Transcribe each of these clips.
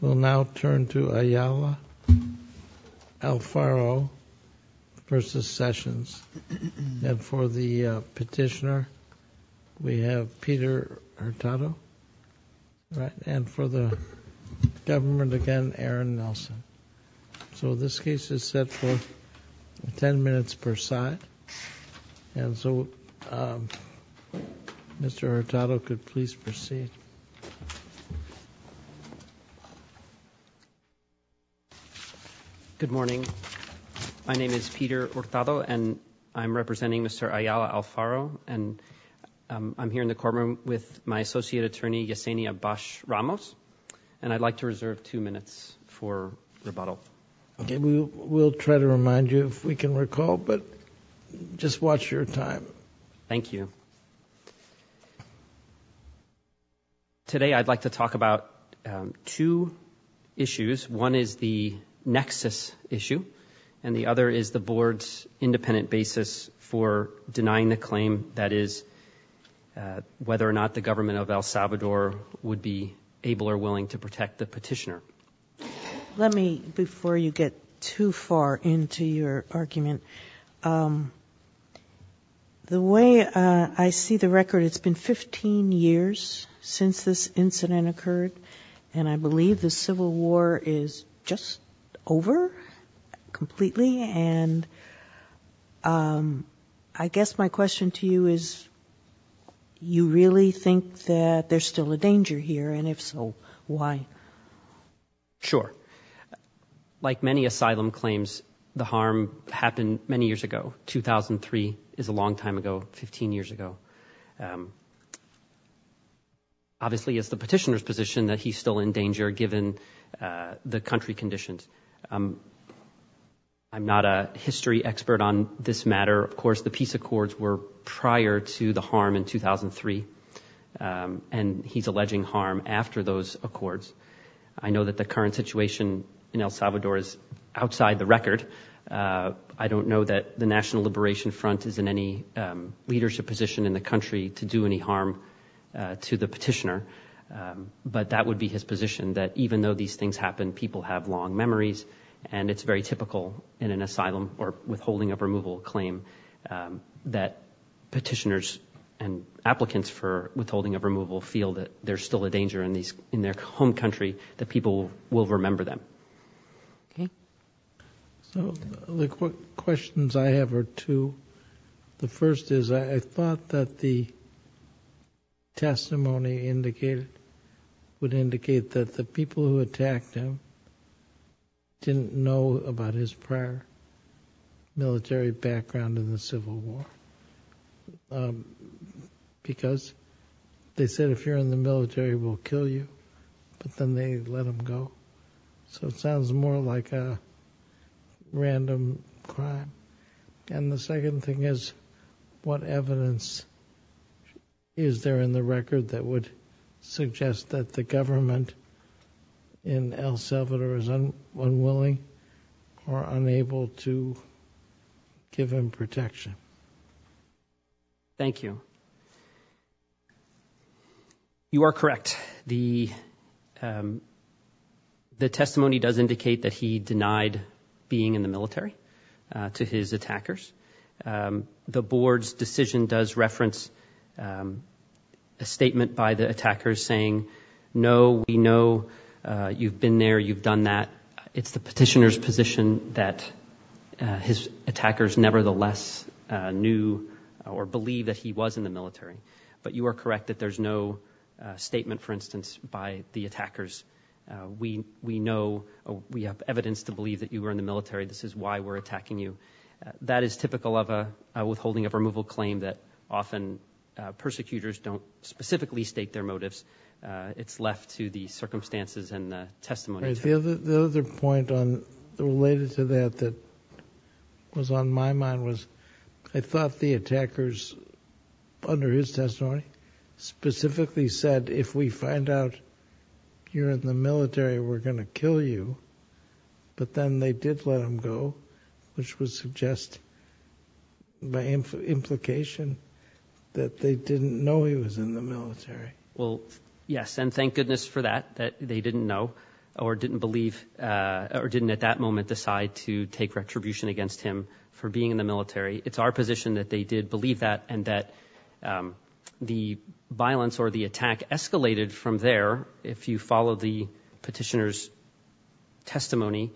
We'll now turn to Ayala-Alfaro v. Sessions and for the petitioner we have Peter Hurtado right and for the government again Aaron Nelson. So this case is set for 10 minutes per side and so Mr. Hurtado could please proceed. Good morning my name is Peter Hurtado and I'm representing Mr. Ayala-Alfaro and I'm here in the courtroom with my associate attorney Yesenia Bash Ramos and I'd like to reserve two minutes for rebuttal. Okay we'll try to remind you if we can recall but just watch your time. Thank you. Today I'd like to talk about two issues one is the nexus issue and the other is the board's independent basis for denying the claim that is whether or not the government of El Salvador would be able or willing to protect the petitioner. Let me before you get too far into your argument the way I see the record it's been 15 years since this incident occurred and I believe the civil war is just over completely and I guess my question to you is you really think that there's still a danger here and if so why? Sure like many asylum claims the harm happened many years ago 2003 is a long time ago 15 years ago. Obviously it's the petitioner's position that he's still in danger given the country conditions. I'm not a history expert on this matter of course the peace accords were signed in 2003 and he's alleging harm after those accords. I know that the current situation in El Salvador is outside the record. I don't know that the national liberation front is in any leadership position in the country to do any harm to the petitioner but that would be his position that even though these things happen people have long memories and it's very typical in an asylum or withholding of removal claim that petitioners and applicants for withholding of removal feel that there's still a danger in their home country that people will remember them. So the questions I have are two. The first is I thought that the testimony indicated would indicate that the people who attacked him didn't know about his prayer. military background in the civil war because they said if you're in the military we'll kill you but then they let him go so it sounds more like a random crime and the second thing is what evidence is there in the record that would suggest that the government in El Salvador is unwilling or unable to give him protection. Thank you. You are correct. The testimony does indicate that he denied being in the military to his attackers. The board's decision does reference a statement by the attackers saying no we know you've been there you've done that. It's the petitioner's position that his attackers nevertheless knew or believe that he was in the military but you are correct that there's no statement for instance by the attackers. We know we have evidence to believe that you were in the military this is why we're attacking you. That is typical of a withholding of removal claim that often persecutors don't specifically state their motives. It's left to the circumstances and testimony. The other point on the related to that that was on my mind was I thought the attackers under his testimony specifically said if we find out you're in the military we're going to kill you but then they did let him go which would suggest by implication that they didn't know he was in the military. Well yes and thank goodness for that that they didn't know or didn't believe or didn't at that moment decide to take retribution against him for being in the military. It's our position that they did believe that and that the violence or the attack escalated from there if you follow the petitioner's testimony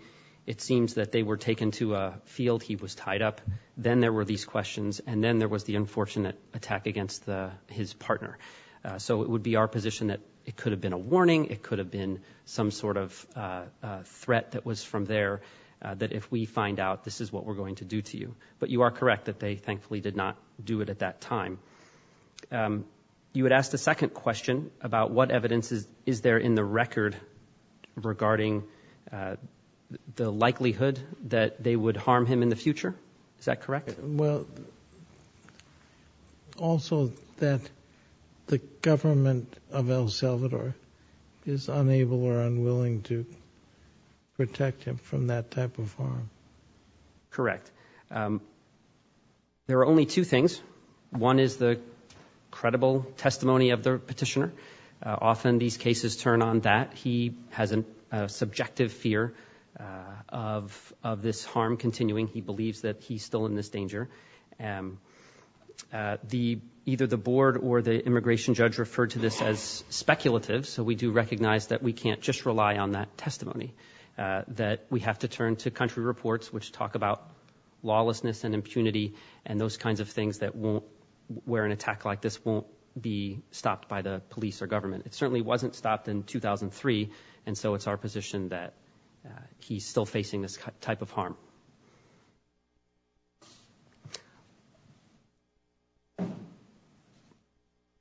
it seems that they were taken to a field he was tied up then there were these questions and then there was the unfortunate attack against the his partner. So it would be our position that it could have been a warning it could have been some sort of threat that was from there that if we find out this is what we're going to do to you but you are correct that they thankfully did not do it at that time. You had asked a second question about what evidence is there in the record regarding the likelihood that they would harm him in the future is that correct? Well also that the government of El Salvador is unable or unwilling to credible testimony of the petitioner often these cases turn on that he has a subjective fear of of this harm continuing he believes that he's still in this danger and the either the board or the immigration judge referred to this as speculative so we do recognize that we can't just rely on that testimony that we have to turn to country reports which talk about lawlessness and impunity and those kinds of things that won't where an attack like this won't be stopped by the police or government it certainly wasn't stopped in 2003 and so it's our position that he's still facing this type of harm.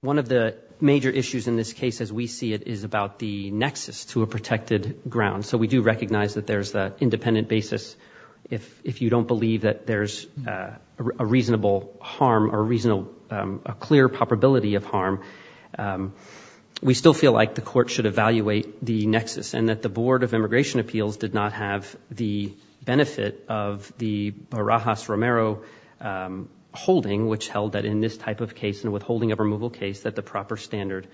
One of the major issues in this case as we see it is about the nexus to a protected ground so we do recognize that there's the independent basis if if you don't believe that there's a reasonable harm or reason a clear probability of harm we still feel like the court should evaluate the nexus and that the board of immigration appeals did not have the benefit of the Barajas Romero holding which held that in this type of case and withholding of removal case that the proper standard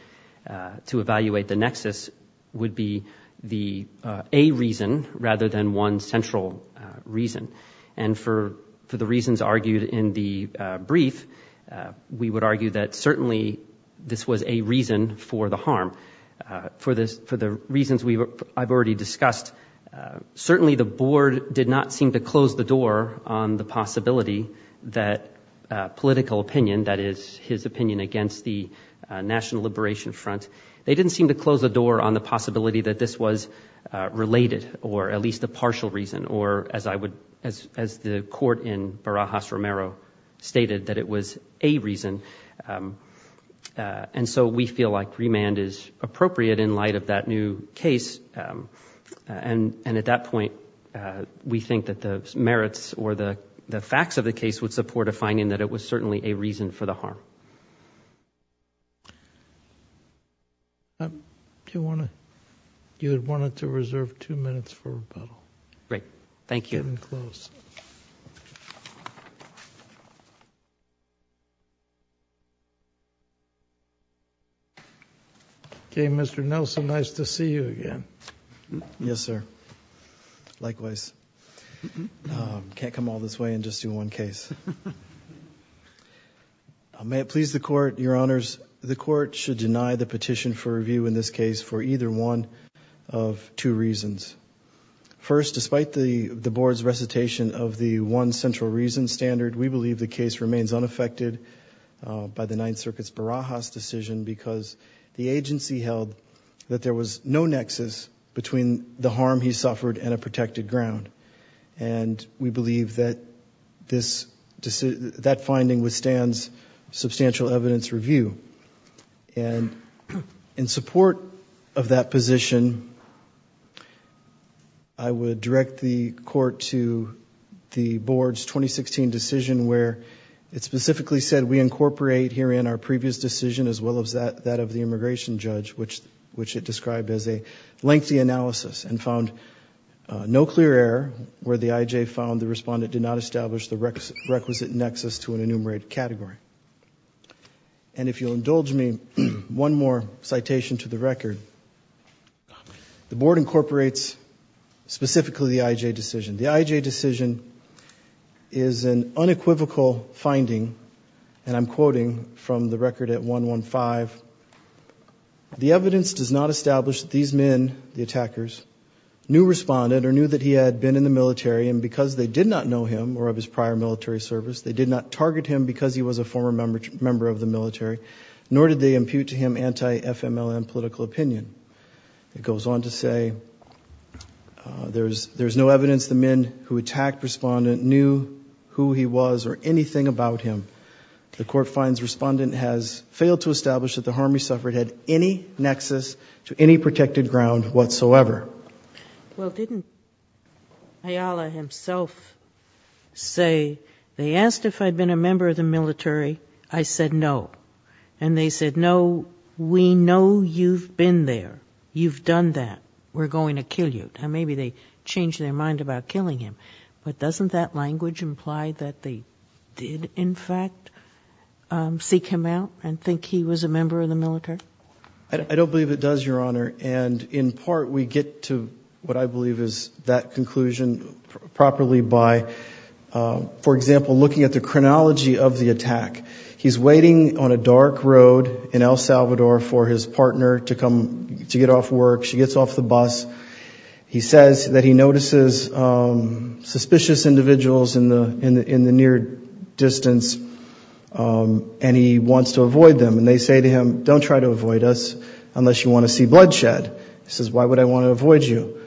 to evaluate the nexus would be the a reason rather than one central reason and for for the reasons argued in the brief we would argue that certainly this was a reason for the harm for this for the reasons we I've already discussed certainly the board did not seem to close the door on the possibility that political opinion that is his opinion against the national liberation front they didn't seem to close the door on the possibility that this was related or at least a partial reason or as I would as as the court in Barajas Romero stated that it was a reason and so we feel like remand is appropriate in light of that new case and and at that point we think that the merits or the the facts of the case would support a finding that it was certainly a reason for the harm do you want to you would want it to reserve two minutes for rebuttal great thank you and close okay Mr. Nelson nice to see you again yes sir likewise can't come all this way and just do one case may it please the court your honors the court should deny the petition for review in this case for either one of two reasons first despite the the board's recitation of the one central reason standard we believe the case remains unaffected by the ninth circuit's Barajas decision because the agency held that there was no nexus between the harm he suffered and a protected ground and we believe that this that finding withstands substantial evidence review and in support of that position I would direct the court to the board's 2016 decision where it specifically said we incorporate here in our previous decision as well as that that of the immigration judge which which it described as a lengthy analysis and found no clear error where the IJ found the respondent did not establish the requisite nexus to an enumerated category and if you'll indulge me one more citation to the record the board incorporates specifically the IJ decision the IJ decision is an unequivocal finding and I'm quoting from the record at 115 the evidence does not establish these men the attackers knew respondent or knew that he had been in the military and because they did not know him or of his prior military service they did not target him because he was a former member member of the military nor did they impute to him anti-fmlm political opinion it goes on to say uh there's there's no evidence the men who attacked respondent knew who he was or anything about him the court finds respondent has failed to establish that the harm he suffered had any nexus to any protected ground whatsoever well didn't ayala himself say they asked if i'd been a member of the military i said no and they said no we know you've been there you've done that we're going to kill you and maybe they changed their mind about killing him but doesn't that language imply that they did in fact um seek him out and think he was a member of the military i don't believe it does your honor and in part we get to what i believe is that conclusion properly by for example looking at the chronology of the attack he's waiting on a dark road in el salvador for his partner to come to get off work she gets off the bus he says that he notices suspicious individuals in the in the near distance and he wants to avoid them and they say to him don't try to avoid us unless you want to see bloodshed he says why would i want to avoid you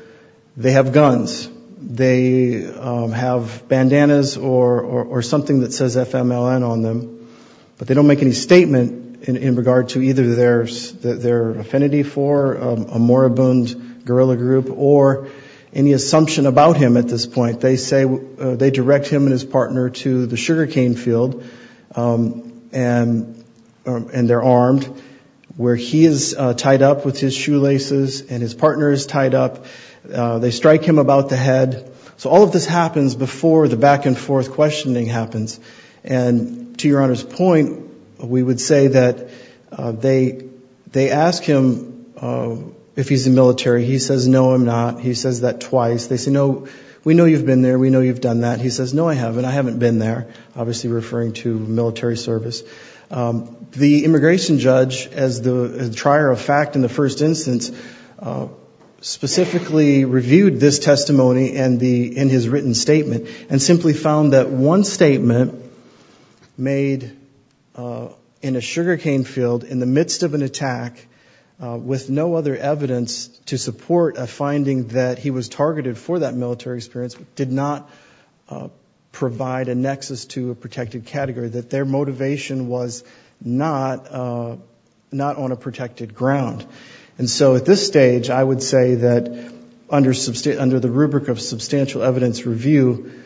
they have guns they have bandanas or or something that says fmln on them but they don't make any statement in regard to either their their affinity for a moribund guerrilla group or any assumption about him at this point they say they direct him and his partner to the sugar cane field and and they're armed where he is tied up with his shoelaces and his partner is tied up they strike him about the head so all of this happens before the back and forth questioning happens and to your honor's point we would say that they they ask him if he's in military he says no i'm not he says that twice they say no we know you've been there we know you've done that he says no i haven't i haven't been there obviously referring to military service the immigration judge as the trier of fact in the first instance specifically reviewed this testimony and the in statement made in a sugar cane field in the midst of an attack with no other evidence to support a finding that he was targeted for that military experience did not provide a nexus to a protected category that their motivation was not not on a protected ground and so at this stage i would say that under substate under the rubric of substantial evidence review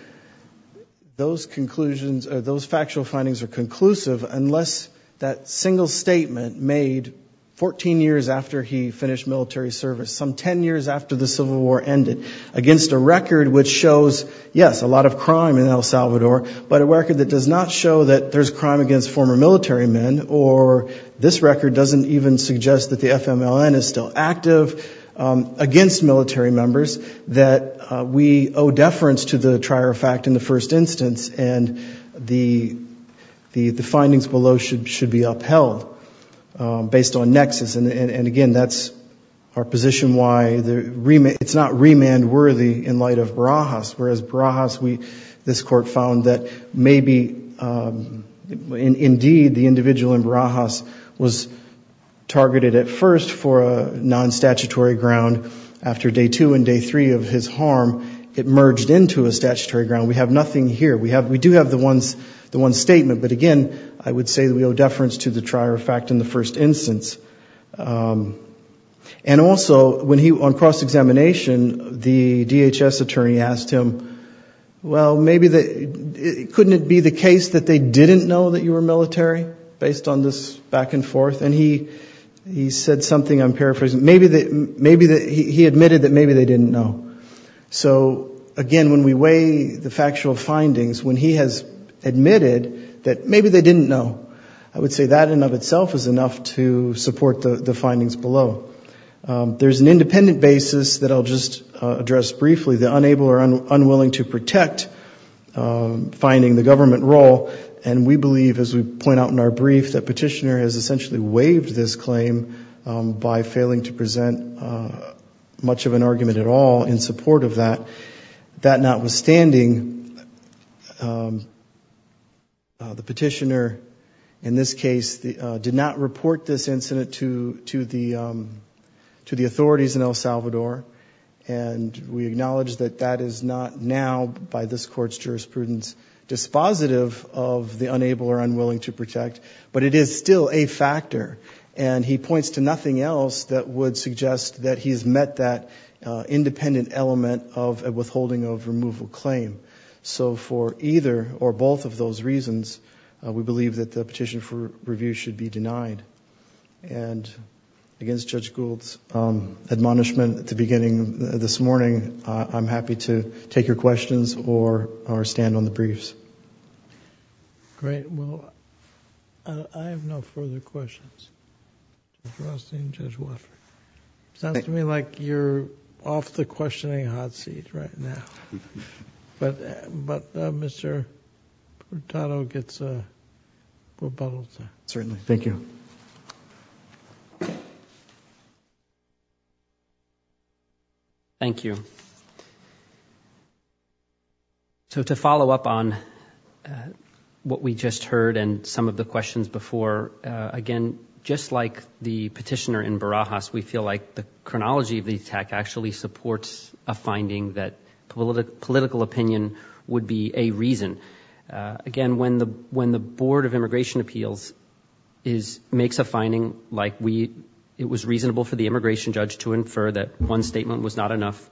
those conclusions those factual findings are conclusive unless that single statement made 14 years after he finished military service some 10 years after the civil war ended against a record which shows yes a lot of crime in el salvador but a record that does not show that there's crime against former military men or this record doesn't even suggest that the fmln is still active against military members that we owe deference to the trier of fact in the first instance and the the the findings below should should be upheld based on nexus and and again that's our position why the remit it's not remand worthy in light of barajas whereas barajas we this court found that maybe um indeed the individual in barajas was targeted at first for a non-statutory ground after day two and day three of his harm it merged into a statutory ground we have nothing here we have we do have the ones the one statement but again i would say that we owe deference to the trier of fact in the first instance um and also when he on cross-examination the dhs attorney asked him well maybe the couldn't it be the case that they didn't know that you were military based on this back and forth and he he said something i'm paraphrasing maybe that maybe that he admitted that maybe they didn't know so again when we weigh the factual findings when he has admitted that maybe they didn't know i would say that in of itself is enough to support the the findings below there's an independent basis that i'll just address briefly the unable or unwilling to protect um finding the government role and we believe as we point out in our brief that petitioner has essentially waived this claim by failing to present much of an argument at all in support of that that notwithstanding um the petitioner in this case the did not report this incident to to the um to the authorities in el salvador and we acknowledge that that is not now by this court's jurisprudence dispositive of the unable or unwilling to protect but it is still a factor and he points to nothing else that would suggest that he's met that uh independent element of a withholding of removal claim so for either or both of those reasons we believe that the petition for removal should be denied and against judge gould's um admonishment at the beginning this morning i'm happy to take your questions or or stand on the briefs great well i have no further questions sounds to me like you're off the questioning hot seat right now but but uh mr portano gets a rebuttal sir certainly thank you thank you so to follow up on what we just heard and some of the questions before uh again just like the petitioner in barajas we feel like the chronology of the attack actually supports a finding that political opinion would be a reason again when the when the board of immigration appeals is makes a finding like we it was reasonable for the immigration judge to infer that one statement was not enough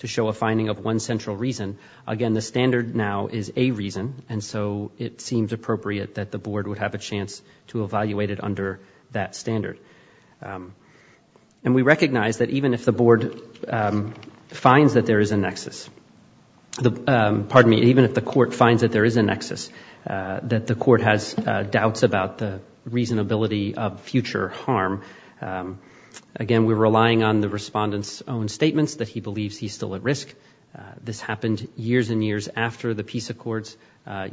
to show a finding of one central reason again the standard now is a reason and so it seems appropriate that the board would have a chance to evaluate it under that standard um and we recognize that even if the board finds that there is a nexus the pardon me even if the court finds that there is a nexus that the court has doubts about the reasonability of future harm again we're relying on the respondent's own statements that he believes he's still at risk this happened years and years after the peace accords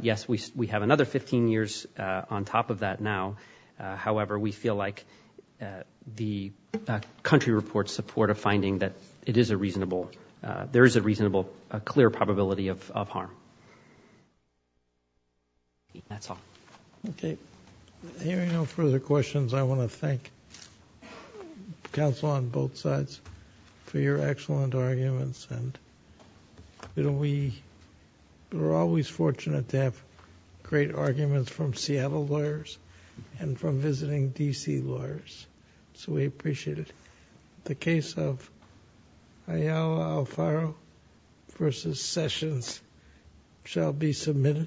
yes we we have another 15 years on top that now however we feel like the country reports support a finding that it is a reasonable there is a reasonable a clear probability of of harm that's all okay hearing no further questions i want to thank counsel on both sides for your excellent arguments and you know we were always fortunate to have great arguments from seattle lawyers and from visiting dc lawyers so we appreciate it the case of ayala alfaro versus sessions shall be submitted